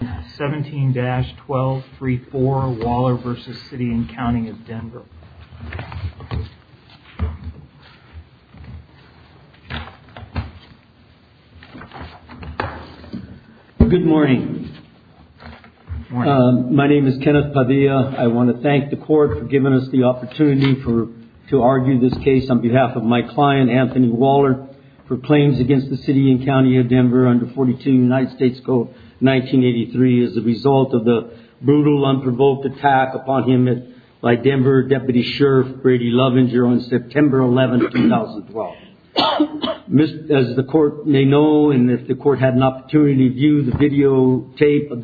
17-1234 Waller v. City and County of Denver. Good morning. My name is Kenneth Padilla. I want to thank the court for giving us the opportunity for to argue this case on behalf of my client Anthony Waller for claims against the City and County of Denver 17-1234 Waller v. City and County of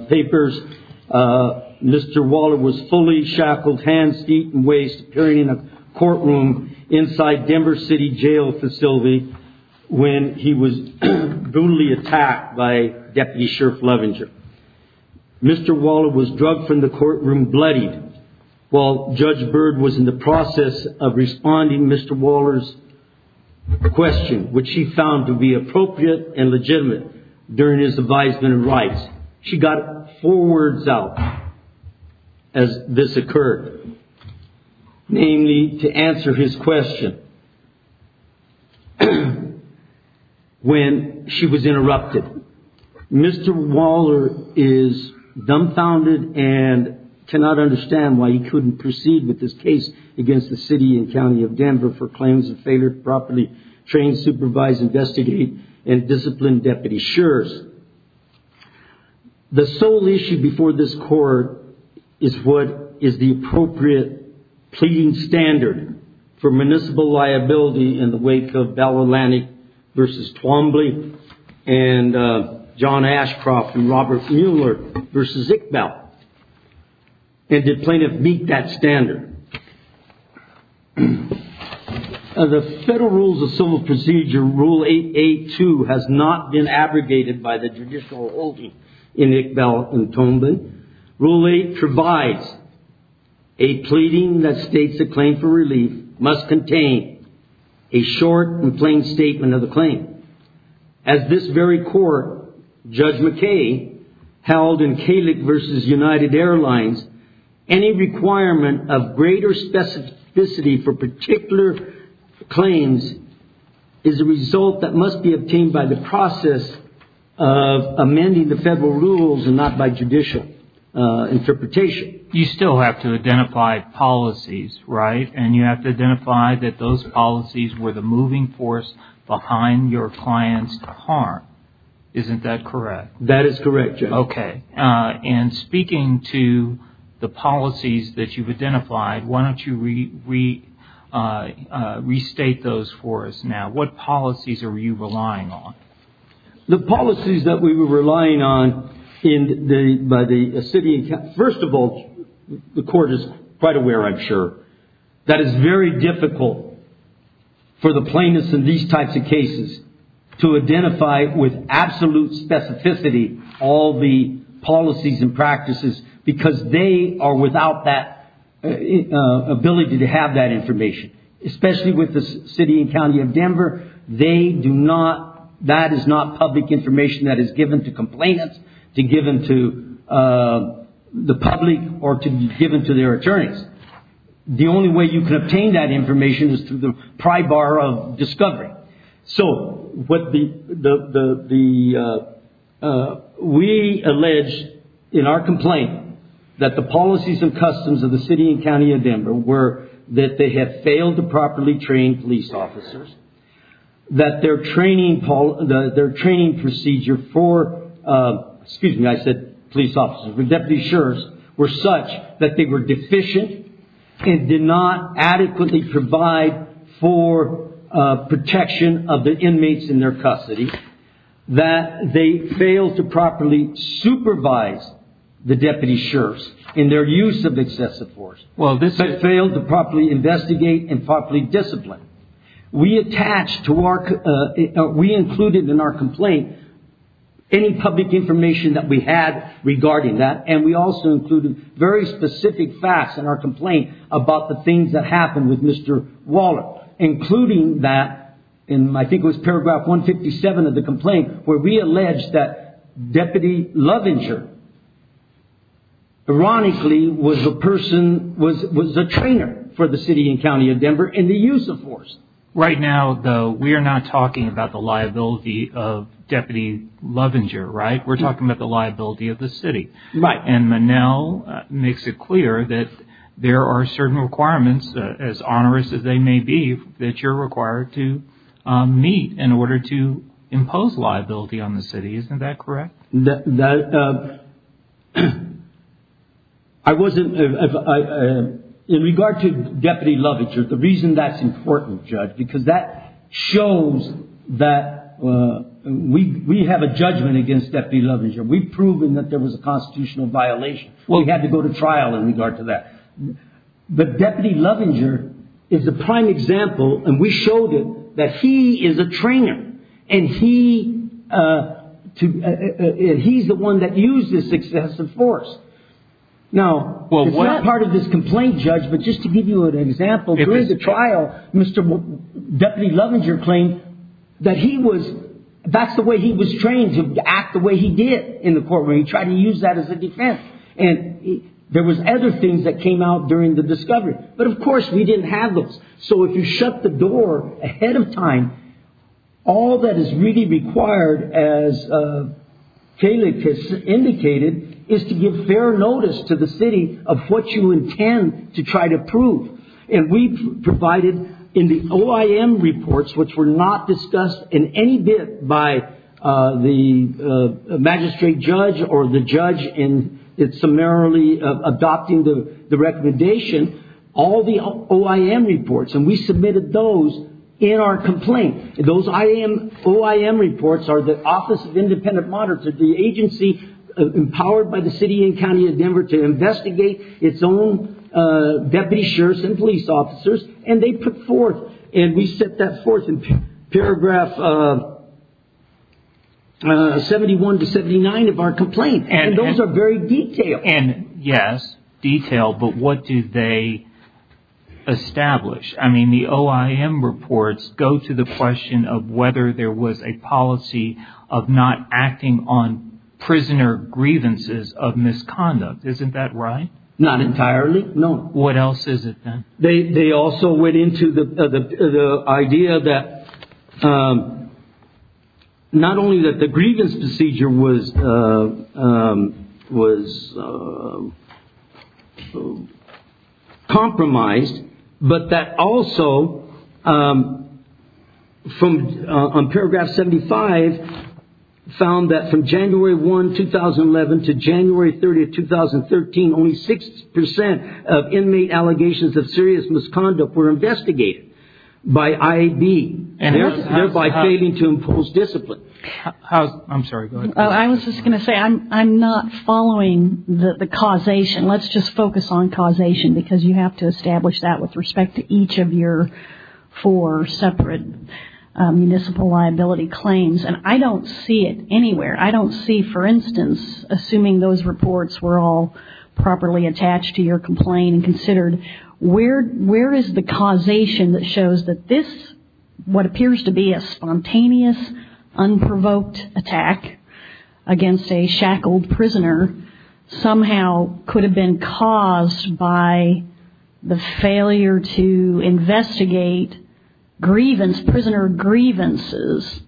Denver. Mr. Waller was fully shackled, hands, feet and waist appearing in a courtroom inside Denver City Jail facility when he was brutally attacked by Deputy Sheriff Lovinger. Mr. Waller was drugged from the courtroom, bloodied, while Judge Byrd was in the process of responding Mr. Waller's question, which he found to be appropriate and legitimate during his advisement and rights. She got four words out as this occurred, namely to answer his question when she was interrupted. Mr. Waller is dumbfounded and cannot understand why he couldn't proceed with this case against the City and County of Denver for claims of failure to properly train, supervise, investigate and discipline Deputy Sheriffs. The sole issue before this court is what is the appropriate pleading standard for municipal liability in the wake of Bell Atlantic v. Twombly and John Ashcroft and Robert Mueller v. Ickbell. And did plaintiff meet that standard? The Federal Rules of Civil Procedure, Rule 8A2, has not been abrogated by the judicial holding in Ickbell v. Twombly. Rule 8 provides a pleading that states a claim for relief must contain a short and plain statement of the claim. As this very court, Judge McKay, held in Kalik v. United Airlines, any requirement of greater specificity for particular claims is a result that must be obtained by the process of amending the Federal Rules and not by judicial interpretation. You still have to identify policies, right? And you have to identify that those policies were the moving force behind your client's harm. Isn't that correct? That is correct, Judge. Okay. And speaking to the policies that you've identified, why don't you restate those for us now? What policies are you relying on? The policies that we were relying on by the city and county... First of all, the court is quite aware, I'm sure, that it's very difficult for the plaintiffs in these types of cases to identify with absolute specificity all the policies and have that information. Especially with the city and county of Denver, they do not... That is not public information that is given to complainants, to give them to the public, or to be given to their attorneys. The only way you can obtain that information is through the pry bar of discovery. So, we allege, in our complaint, that the policies and customs of the city and county of Denver, that they have failed to properly train police officers, that their training procedure for, excuse me, I said police officers, but deputy sheriffs, were such that they were deficient and did not adequately provide for protection of the inmates in their custody, that they failed to properly supervise the deputy sheriffs in their use of excessive force. Well, they failed to properly investigate and properly discipline. We attached to our... We included in our complaint any public information that we had regarding that, and we also included very specific facts in our complaint about the things that happened with Mr. Waller, including that, and I think it was paragraph 157 of the complaint, where we allege that Deputy Lovinger, ironically, was a person, was a trainer for the city and county of Denver in the use of force. Right now, though, we are not talking about the liability of Deputy Lovinger, right? We're talking about the liability of the city. Right. And Manel makes it clear that there are certain requirements, as onerous as they may be, that you're required to meet in order to impose liability on the city. Isn't that a... I wasn't... In regard to Deputy Lovinger, the reason that's important, Judge, because that shows that we have a judgment against Deputy Lovinger. We've proven that there was a constitutional violation. We had to go to trial in regard to that. But Deputy Lovinger is a prime example, and we showed him that he is a trainer, and he's the one that used this excessive force. Now, it's not part of this complaint, Judge, but just to give you an example, during the trial, Mr. Deputy Lovinger claimed that he was... That's the way he was trained, to act the way he did in the courtroom. He tried to use that as a defense. And there was other things that came out during the discovery. But, of course, we didn't have those. So, if you shut the door ahead of time, all that is really required, as Kayleigh has indicated, is to give fair notice to the city of what you intend to try to prove. And we provided, in the OIM reports, which were not discussed in any bit by the magistrate judge or the judge in summarily adopting the recommendation, all the OIM reports. And we submitted those in our complaint. Those OIM reports are the Office of Independent Monitor. It's the agency empowered by the city and county of Denver to investigate its own deputy sheriffs and police officers. And they put forth, and we set that forth in paragraph 71 to 79 of our complaint. And those are very detailed. And, yes, detailed. But what do they establish? I mean, the OIM reports go to the question of whether there was a policy of not acting on prisoner grievances of misconduct. Isn't that right? Not entirely, no. What else is it, then? They also went into the idea that not only that the misconduct was compromised, but that also, on paragraph 75, found that from January 1, 2011 to January 30, 2013, only 6 percent of inmate allegations of serious misconduct were investigated by IAB, thereby failing to impose discipline. I'm sorry, go ahead. I was just going to say, I'm not following the causation. Let's just focus on causation, because you have to establish that with respect to each of your four separate municipal liability claims. And I don't see it anywhere. I don't see, for instance, assuming those reports were all properly attached to your complaint and considered, where is the causation that shows that this, what we would call an unprovoked attack against a shackled prisoner, somehow could have been caused by the failure to investigate prisoner grievances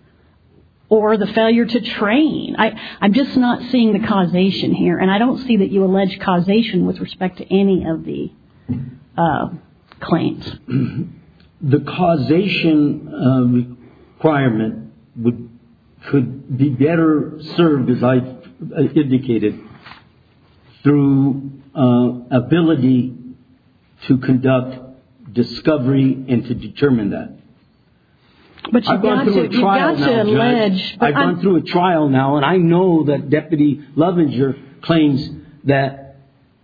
or the failure to train? I'm just not seeing the causation here. And I don't see that you allege causation with respect to any of the claims. The causation requirement could be better served, as I've indicated, through ability to conduct discovery and to determine that. But you've got to allege. I've gone through a trial now, and I know that Deputy Lovinger claims that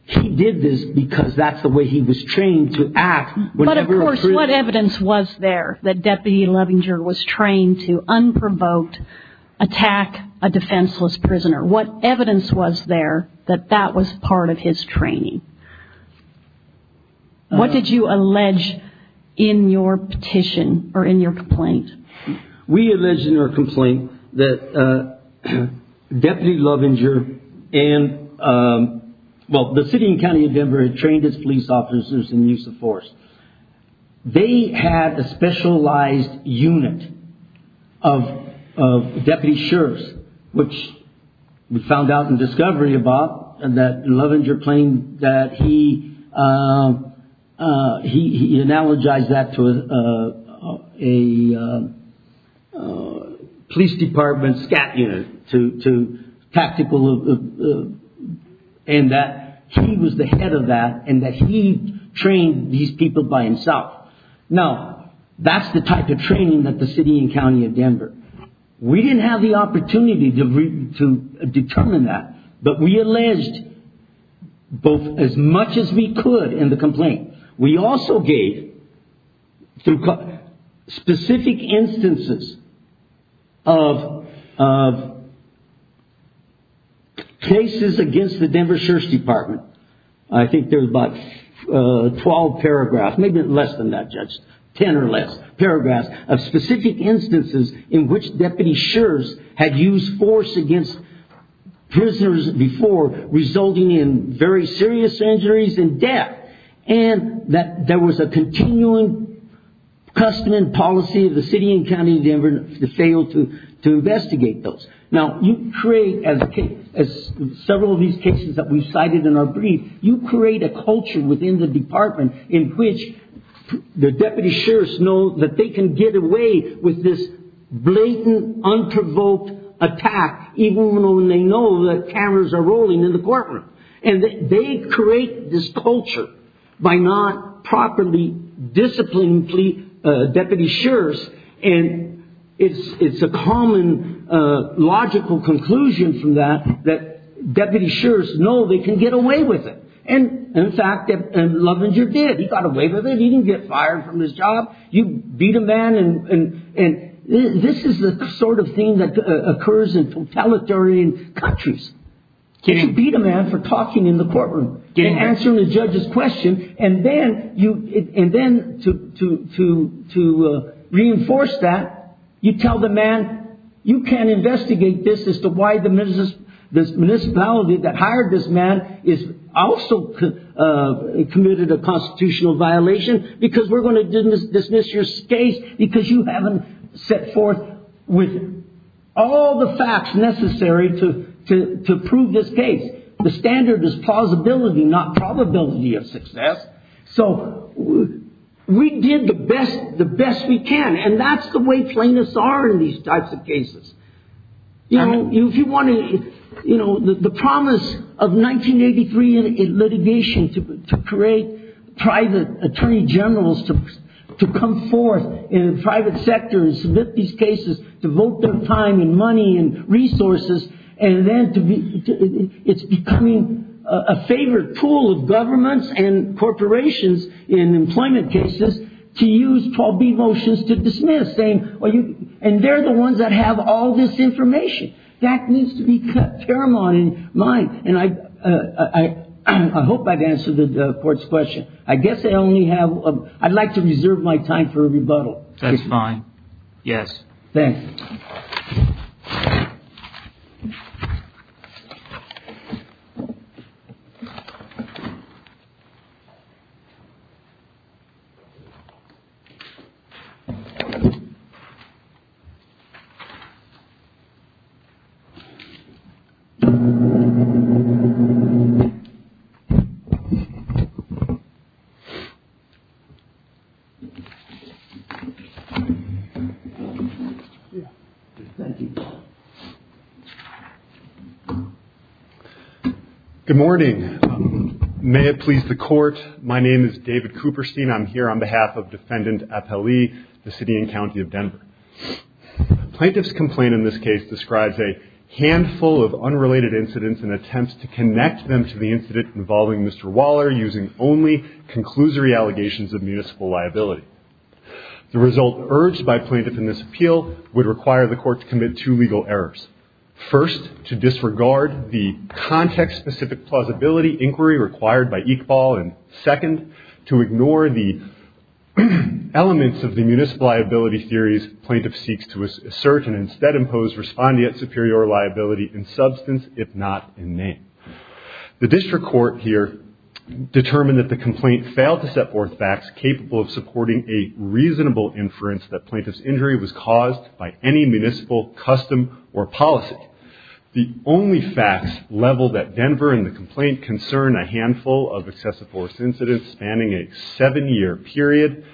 he did this because that's the way he was trained to act. But of course, what evidence was there that Deputy Lovinger was trained to unprovoked attack a defenseless prisoner? What evidence was there that that was part of his training? What did you allege in your petition or in your complaint? We allege in our complaint that Deputy Lovinger and, well, the city and county of Denver had trained his police officers in the use of force. They had a specialized unit of deputy sheriffs, which we found out in police department, SCAT unit, to tactical, and that he was the head of that, and that he trained these people by himself. Now, that's the type of training that the city and county of Denver. We didn't have the opportunity to determine that, but we alleged both as much as we could in the complaint. We also gave specific instances of cases against the Denver Sheriff's Department. I think there's about 12 paragraphs, maybe less than that, Judge, 10 or less paragraphs of specific instances in which deputy sheriffs had used force against prisoners before, resulting in very serious injuries and death, and that there was a continuing custom and policy of the city and county of Denver to fail to investigate those. Now, you create, as several of these cases that we've cited in our brief, you create a culture within the department in which the deputy sheriffs know that they can get away with this blatant, unprovoked attack, even when they know that cameras are rolling in the courtroom. And they create this culture by not properly disciplining deputy sheriffs, and it's a common logical conclusion from that that deputy sheriffs know they can get away with it. And in fact, Lovinger did. He got away with it. He didn't get fired from his job. You beat a man, and this is the sort of thing that occurs in totalitarian countries. You beat a man for talking in the courtroom and answering the judge's question, and then to reinforce that, you tell the man, you can't investigate this as to why the municipality that hired this man also committed a constitutional violation because we're going to dismiss your case because you haven't set forth all the facts necessary to prove this case. The standard is plausibility, not probability of success. So we did the best we can, and that's the way plaintiffs are in these types of cases. If you want to, the promise of 1983 in litigation to create private attorney generals to come forth in the private sector and submit these cases to vote their time and money and resources, and then it's becoming a favored pool of governments and corporations in employment cases to use 12b motions to dismiss. And they're the ones that have all this information. That needs to be paramount in mind. And I hope I've answered the court's question. I guess I'd like to reserve my time for a rebuttal. That's fine. Yes. Thank you. Thank you. Good morning. May it please the court. My name is David Cooperstein. I'm here on behalf of Defendant Appali, the city and county of Denver. Plaintiff's complaint in this case describes a handful of unrelated incidents and attempts to connect them to the incident involving Mr. Waller using only conclusory allegations of municipal liability. The result urged by plaintiff in this appeal would require the court to commit two legal errors. First, to disregard the context-specific plausibility inquiry required by Iqbal, and second, to ignore the elements of the municipal liability theories plaintiff seeks to assert and instead impose respondeat superior liability in substance, if not in name. The district court here determined that the complaint failed to set forth facts capable of supporting a reasonable inference that plaintiff's injury was caused by any municipal custom or policy. The only facts level that Denver in the complaint concern a handful of excessive force incidents spanning a seven-year period,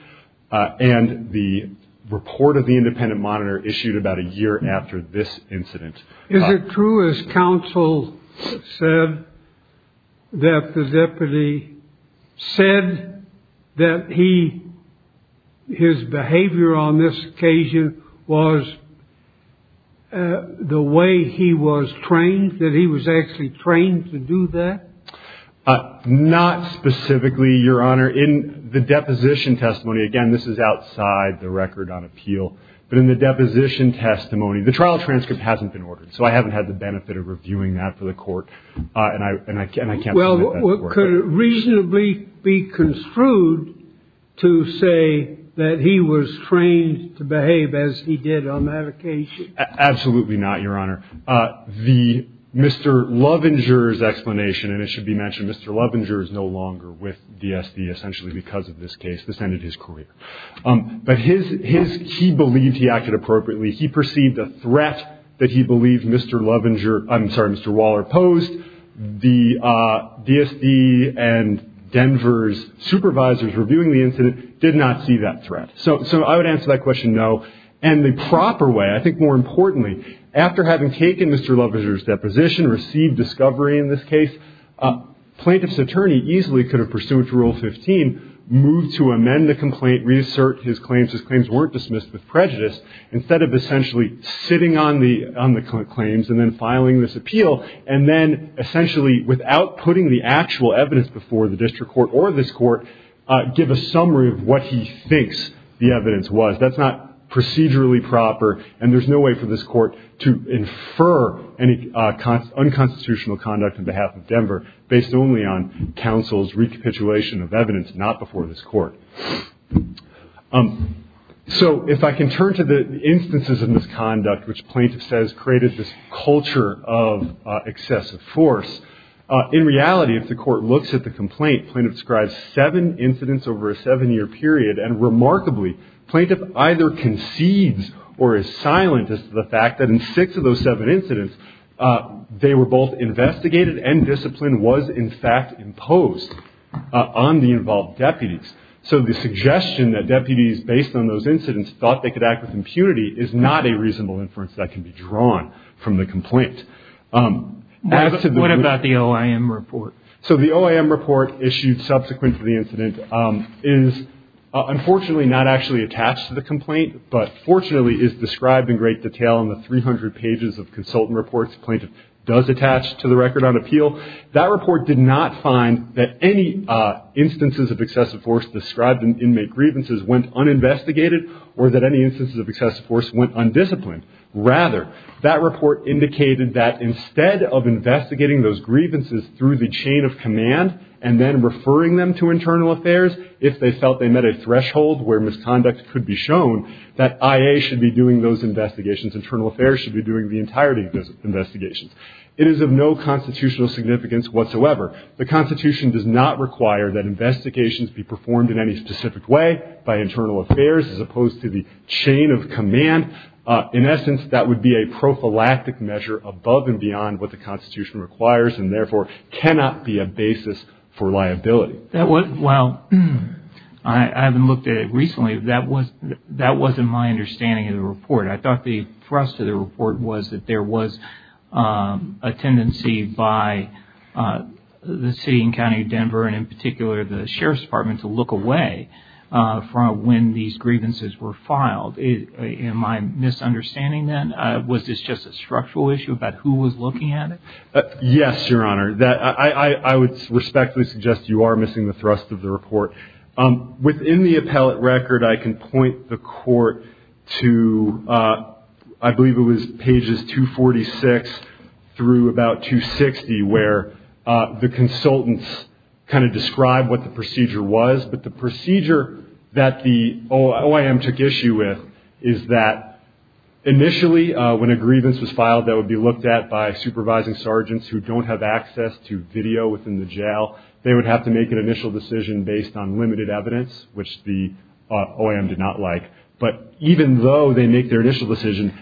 and the report of the independent monitor issued about a year after this incident. Is it true, as counsel said, that the deputy said that his behavior on this occasion was the way he was trained, that he was actually trained to do that? Not specifically, Your Honor. In the deposition testimony, again, this is outside the record on appeal, but in the deposition testimony, the trial transcript hasn't been ordered, so I haven't had the benefit of reviewing that for the court, and I can't make that work. Could it reasonably be construed to say that he was trained to behave as he did on that occasion? Absolutely not, Your Honor. The Mr. Lovinger's explanation, and it should be mentioned, Mr. Lovinger is no longer with DSD, essentially because of this case. This ended his career. But he believed he acted appropriately. He perceived a threat that he believed Mr. Lovinger, I'm sorry, Mr. Waller posed. The DSD and Denver's supervisors reviewing the incident did not see that threat. So I would answer that question no. And the proper way, I think more importantly, after having taken Mr. Lovinger's deposition, received discovery in this case, a plaintiff's attorney easily could have pursued Rule 15, moved to amend the complaint, reassert his claims, his claims weren't dismissed with prejudice, instead of essentially sitting on the claims and then filing this appeal, and then essentially without putting the actual evidence before the district court or this court, give a summary of what he thinks the evidence was. That's not procedurally proper, and there's no way for this court to infer any unconstitutional conduct on behalf of Denver, based only on counsel's recapitulation of evidence not before this court. So if I can turn to the instances of misconduct which plaintiff says created this culture of excessive force. In reality, if the court looks at the complaint, plaintiff describes seven incidents over a seven-year period, and remarkably, plaintiff either concedes or is silent as to the fact that in six of those seven incidents, they were both investigated and discipline was in fact imposed on the involved deputies. So the suggestion that deputies based on those incidents thought they could act with impunity is not a reasonable inference that can be drawn from the complaint. What about the OIM report? So the OIM report issued subsequent to the incident is unfortunately not actually attached to the complaint, but fortunately is described in great detail in the 300 pages of consultant reports the plaintiff does attach to the record on appeal. That report did not find that any instances of excessive force described in inmate grievances went uninvestigated or that any instances of excessive force went undisciplined. Rather, that report indicated that instead of investigating those grievances through the chain of command and then referring them to internal affairs, if they felt they met a threshold where misconduct could be shown, that IA should be doing those investigations, internal affairs should be doing the entirety of those investigations. It is of no constitutional significance whatsoever. The Constitution does not require that investigations be performed in any specific way by internal affairs as opposed to the chain of command. In essence, that would be a prophylactic measure above and beyond what the Constitution requires and therefore cannot be a basis for liability. Well, I haven't looked at it recently. That wasn't my understanding of the report. I thought the thrust of the report was that there was a tendency by the City and County of Denver and in particular the Sheriff's Department to look away from when these grievances were filed. Am I misunderstanding that? Was this just a structural issue about who was looking at it? Yes, Your Honor. I would respectfully suggest you are missing the thrust of the report. Within the appellate record, I can point the Court to I believe it was pages 246 through about 260 where the consultants kind of described what the procedure was. But the procedure that the OIM took issue with is that initially when a grievance was filed that would be looked at by supervising sergeants who don't have access to video within the jail, they would have to make an initial decision based on limited evidence which the OIM did not like. But even though they make their initial decision,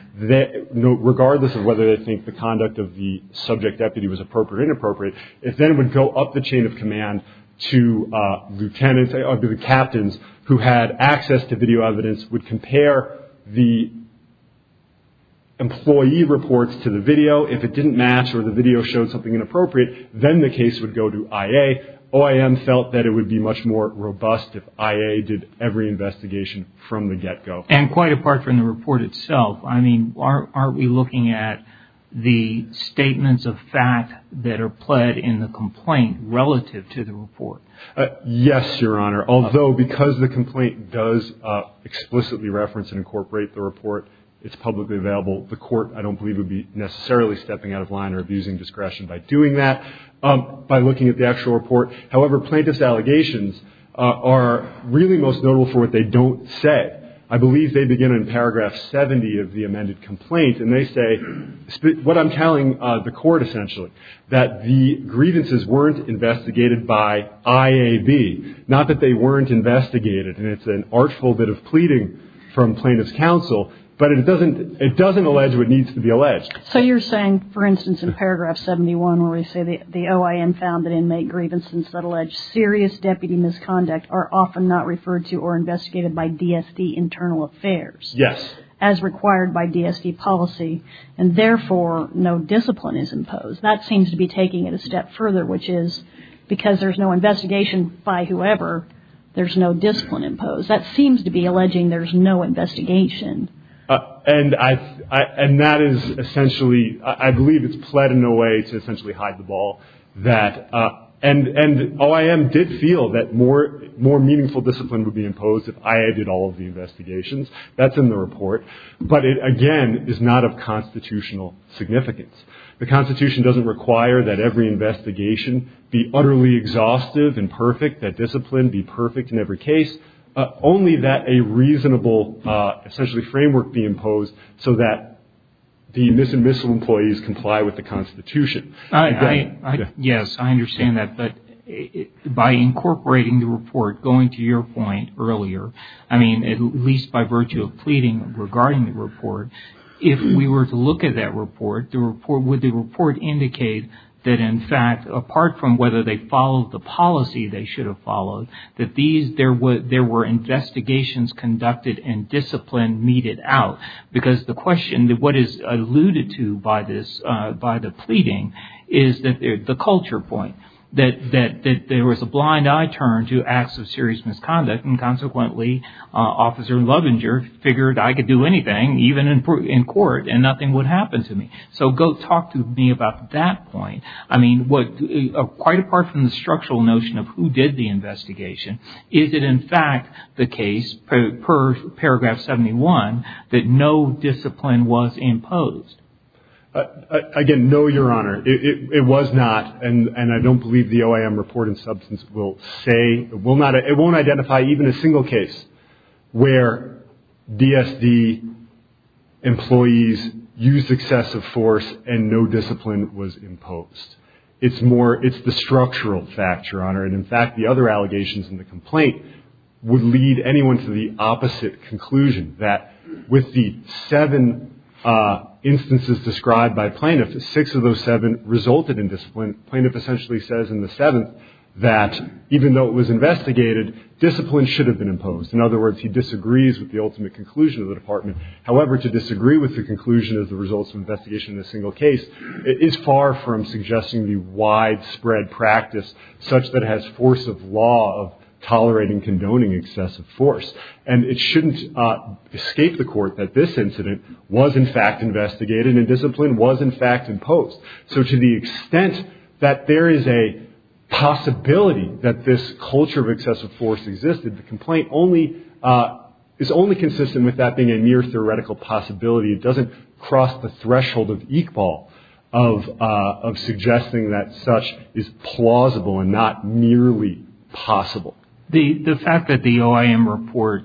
regardless of whether they think the conduct of the subject deputy was appropriate or inappropriate, it then would go up the chain of command to the captains who had access to video evidence, would compare the employee reports to the video. If it didn't match or the video showed something inappropriate, then the case would go to IA. OIM felt that it would be much more robust if IA did every investigation from the get-go. And quite apart from the report itself, I mean, aren't we looking at the statements of fact that are pled in the complaint relative to the report? Yes, Your Honor. Although because the complaint does explicitly reference and incorporate the report, it's publicly available, the court I don't believe would be necessarily stepping out of line or abusing discretion by doing that, by looking at the actual report. However, plaintiff's allegations are really most notable for what they don't say. I believe they begin in paragraph 70 of the amended complaint, and they say what I'm telling the court essentially, that the grievances weren't investigated by IAB. Not that they weren't investigated, and it's an artful bit of pleading from plaintiff's counsel, but it doesn't allege what needs to be alleged. So you're saying, for instance, in paragraph 71 where we say, the OIM found that inmate grievances that allege serious deputy misconduct are often not referred to or investigated by DSD internal affairs? Yes. As required by DSD policy, and therefore no discipline is imposed. That seems to be taking it a step further, which is because there's no investigation by whoever, there's no discipline imposed. That seems to be alleging there's no investigation. And that is essentially, I believe it's pled in a way to essentially hide the ball that, and OIM did feel that more meaningful discipline would be imposed if IA did all of the investigations. That's in the report. But it, again, is not of constitutional significance. The Constitution doesn't require that every investigation be utterly exhaustive and perfect, that discipline be perfect in every case, only that a reasonable essentially framework be imposed so that the misemissal employees comply with the Constitution. Yes, I understand that. But by incorporating the report, going to your point earlier, I mean at least by virtue of pleading regarding the report, if we were to look at that report, would the report indicate that, in fact, apart from whether they followed the policy they should have followed, that there were investigations conducted and discipline meted out? Because the question, what is alluded to by the pleading is the culture point, that there was a blind eye turn to acts of serious misconduct, and consequently Officer Lovinger figured I could do anything, even in court, and nothing would happen to me. So go talk to me about that point. I mean, quite apart from the structural notion of who did the investigation, is it in fact the case per paragraph 71 that no discipline was imposed? Again, no, Your Honor. It was not, and I don't believe the OIM report in substance will say, it won't identify even a single case where DSD employees used excessive force and no discipline was imposed. It's the structural fact, Your Honor, and, in fact, the other allegations in the complaint would lead anyone to the opposite conclusion, that with the seven instances described by plaintiff, six of those seven resulted in discipline, and plaintiff essentially says in the seventh that even though it was investigated, discipline should have been imposed. In other words, he disagrees with the ultimate conclusion of the department. However, to disagree with the conclusion of the results of investigation in a single case is far from suggesting the widespread practice such that it has force of law of tolerating, condoning excessive force, and it shouldn't escape the court that this incident was, in fact, investigated and discipline was, in fact, imposed. So to the extent that there is a possibility that this culture of excessive force existed, the complaint is only consistent with that being a mere theoretical possibility. It doesn't cross the threshold of Iqbal of suggesting that such is plausible and not merely possible. The fact that the OIM report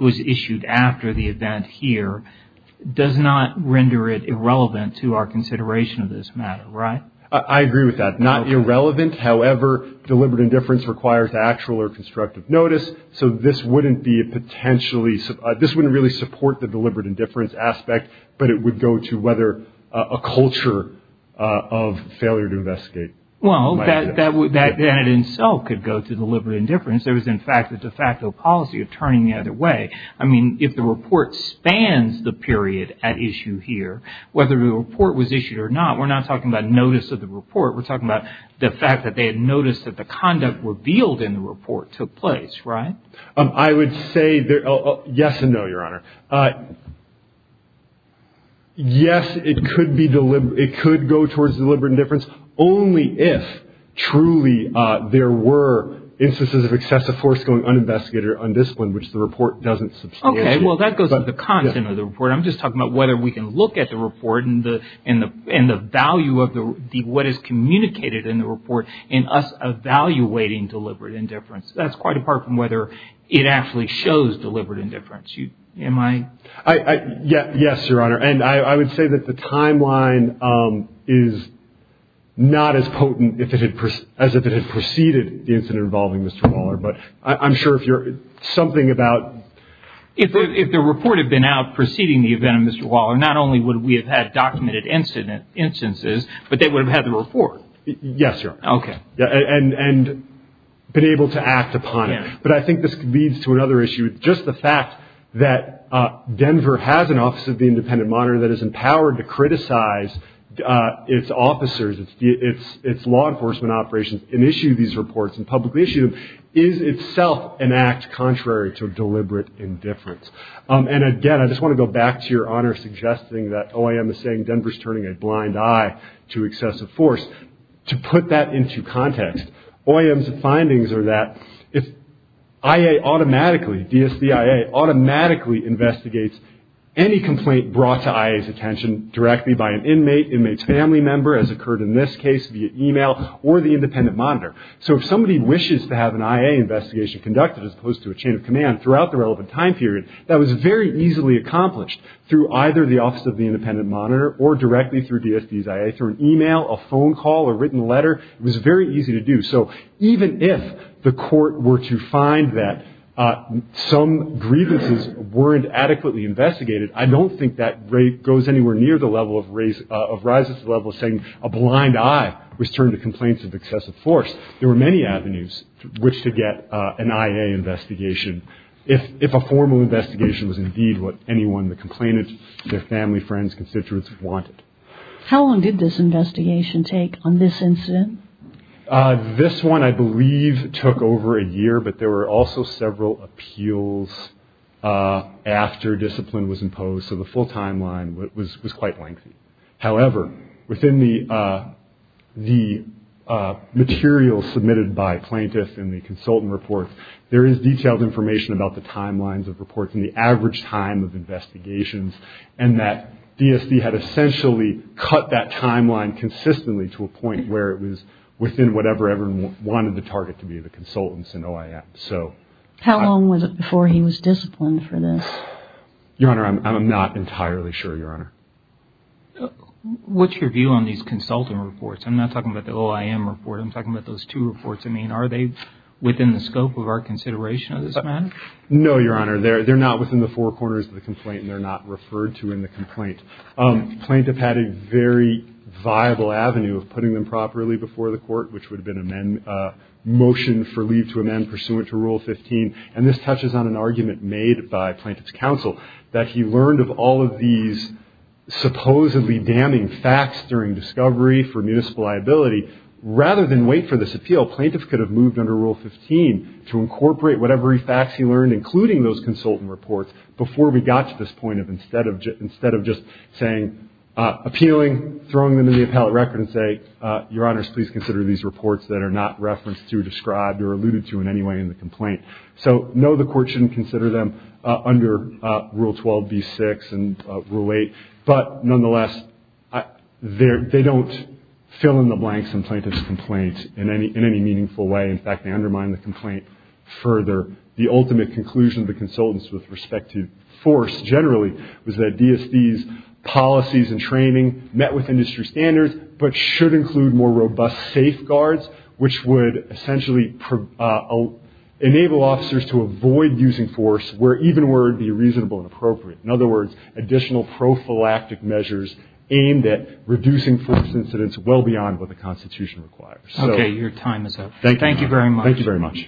was issued after the event here does not render it irrelevant to our consideration of this matter, right? I agree with that. Not irrelevant. However, deliberate indifference requires actual or constructive notice, so this wouldn't really support the deliberate indifference aspect, but it would go to whether a culture of failure to investigate. Well, that in itself could go to deliberate indifference. There was, in fact, a de facto policy of turning the other way. I mean, if the report spans the period at issue here, whether the report was issued or not, we're not talking about notice of the report. We're talking about the fact that they had noticed that the conduct revealed in the report took place, right? I would say yes and no, Your Honor. Yes, it could go towards deliberate indifference, only if truly there were instances of excessive force going uninvestigated or undisciplined, which the report doesn't substantiate. Okay, well, that goes with the content of the report. I'm just talking about whether we can look at the report and the value of what is communicated in the report in us evaluating deliberate indifference. That's quite apart from whether it actually shows deliberate indifference. Am I? Yes, Your Honor. And I would say that the timeline is not as potent as if it had preceded the incident involving Mr. Waller. But I'm sure if you're something about. If the report had been out preceding the event of Mr. Waller, not only would we have had documented instances, but they would have had the report. Yes, Your Honor. Okay. And been able to act upon it. But I think this leads to another issue. Just the fact that Denver has an Office of the Independent Monitor that is empowered to criticize its officers, its law enforcement operations, and issue these reports and publicly issue them, is itself an act contrary to deliberate indifference. And again, I just want to go back to Your Honor suggesting that OIM is saying Denver is turning a blind eye to excessive force. To put that into context, OIM's findings are that if IA automatically, DSDIA, automatically investigates any complaint brought to IA's attention directly by an inmate, inmate's family member, as occurred in this case via email, or the independent monitor. So if somebody wishes to have an IA investigation conducted, as opposed to a chain of command, throughout the relevant time period, that was very easily accomplished through either the Office of the Independent Monitor or directly through DSD's IA, through an email, a phone call, a written letter. It was very easy to do. So even if the court were to find that some grievances weren't adequately investigated, I don't think that goes anywhere near the level of rising to the level of saying a blind eye was turned to complaints of excessive force. There were many avenues which to get an IA investigation. If a formal investigation was indeed what anyone, the complainant, their family, friends, constituents wanted. How long did this investigation take on this incident? This one, I believe, took over a year, but there were also several appeals after discipline was imposed. So the full timeline was quite lengthy. However, within the materials submitted by plaintiffs in the consultant reports, there is detailed information about the timelines of reports and the average time of investigations, and that DSD had essentially cut that timeline consistently to a point where it was within whatever everyone wanted the target to be, the consultants and OIM. How long was it before he was disciplined for this? Your Honor, I'm not entirely sure, Your Honor. What's your view on these consultant reports? I'm not talking about the OIM report. I'm talking about those two reports. I mean, are they within the scope of our consideration of this matter? No, Your Honor. They're not within the four corners of the complaint, and they're not referred to in the complaint. Plaintiff had a very viable avenue of putting them properly before the court, which would have been a motion for leave to amend pursuant to Rule 15, and this touches on an argument made by plaintiff's counsel, that he learned of all of these supposedly damning facts during discovery for municipal liability. Rather than wait for this appeal, plaintiffs could have moved under Rule 15 to incorporate whatever facts he learned, including those consultant reports, before we got to this point of instead of just saying appealing, throwing them in the appellate record and saying, Your Honors, please consider these reports that are not referenced to, described, or alluded to in any way in the complaint. So, no, the court shouldn't consider them under Rule 12b-6 and Rule 8, but nonetheless they don't fill in the blanks in plaintiff's complaint in any meaningful way. In fact, they undermine the complaint further. The ultimate conclusion of the consultants with respect to force generally was that DSD's policies and training met with industry standards but should include more robust safeguards, which would essentially enable officers to avoid using force even where it would be reasonable and appropriate. In other words, additional prophylactic measures aimed at reducing force incidents well beyond what the Constitution requires. Okay, your time is up. Thank you very much. Thank you very much.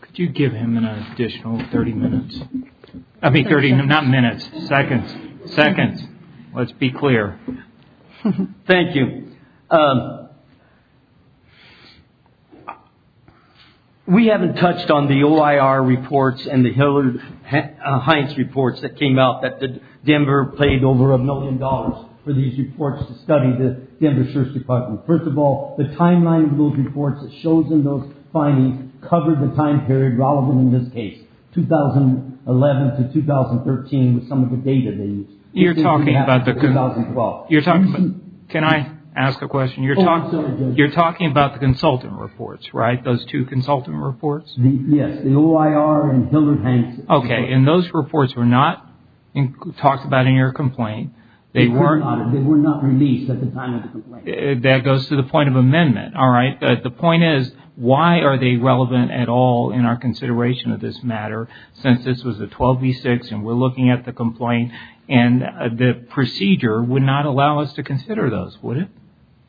Could you give him an additional 30 minutes? I mean 30, not minutes, seconds. Let's be clear. Thank you. We haven't touched on the OIR reports and the Hillard-Heinz reports that came out that the Denver paid over a million dollars for these reports to study the Denver Sheriff's Department. First of all, the timeline of those reports that shows in those findings covered the time period relevant in this case, 2011 to 2013 with some of the data they used. You're talking about the – 2012. Can I ask a question? Oh, I'm sorry, Judge. You're talking about the consultant reports, right, those two consultant reports? Yes, the OIR and Hillard-Heinz reports. Okay, and those reports were not talked about in your complaint. They were not released at the time of the complaint. That goes to the point of amendment. The point is, why are they relevant at all in our consideration of this matter since this was a 12b6 and we're looking at the complaint and the procedure would not allow us to consider those, would it?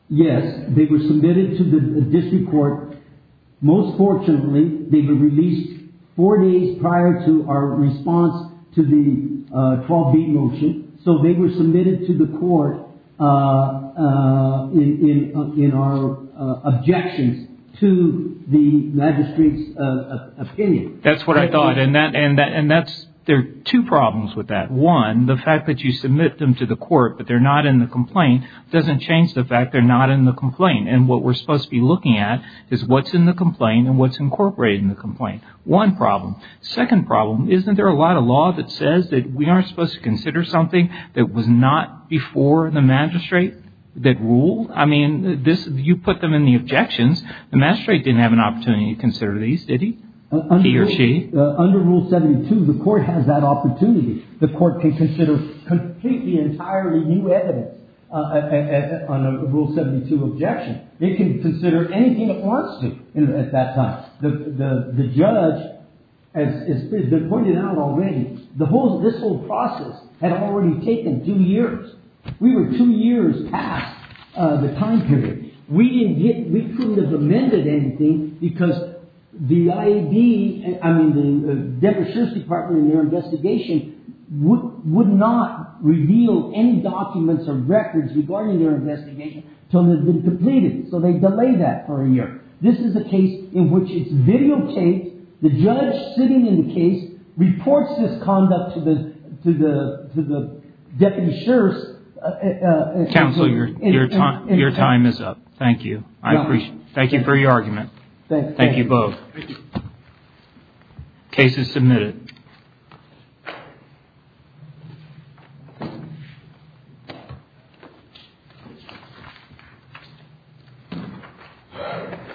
Yes, they were submitted to the district court. Most fortunately, they were released four days prior to our response to the 12b motion. So they were submitted to the court in our objections to the magistrate's opinion. That's what I thought. And that's – there are two problems with that. One, the fact that you submit them to the court but they're not in the complaint doesn't change the fact they're not in the complaint. And what we're supposed to be looking at is what's in the complaint and what's incorporated in the complaint. One problem. Second problem, isn't there a lot of law that says that we aren't supposed to consider something that was not before the magistrate that ruled? I mean, this – you put them in the objections. The magistrate didn't have an opportunity to consider these, did he? He or she? Under Rule 72, the court has that opportunity. The court can consider completely entirely new evidence on a Rule 72 objection. It can consider anything it wants to at that time. The judge, as has been pointed out already, the whole – this whole process had already taken two years. We were two years past the time period. We didn't get – we couldn't have amended anything because the IAB – I mean, the Deputy Sheriff's Department and their investigation would not reveal any documents or records regarding their investigation until it had been completed. This is a case in which it's videotaped. The judge sitting in the case reports this conduct to the deputy sheriff's – Counsel, your time is up. Thank you. I appreciate it. Thank you for your argument. Thank you both. Case is submitted. Thank you.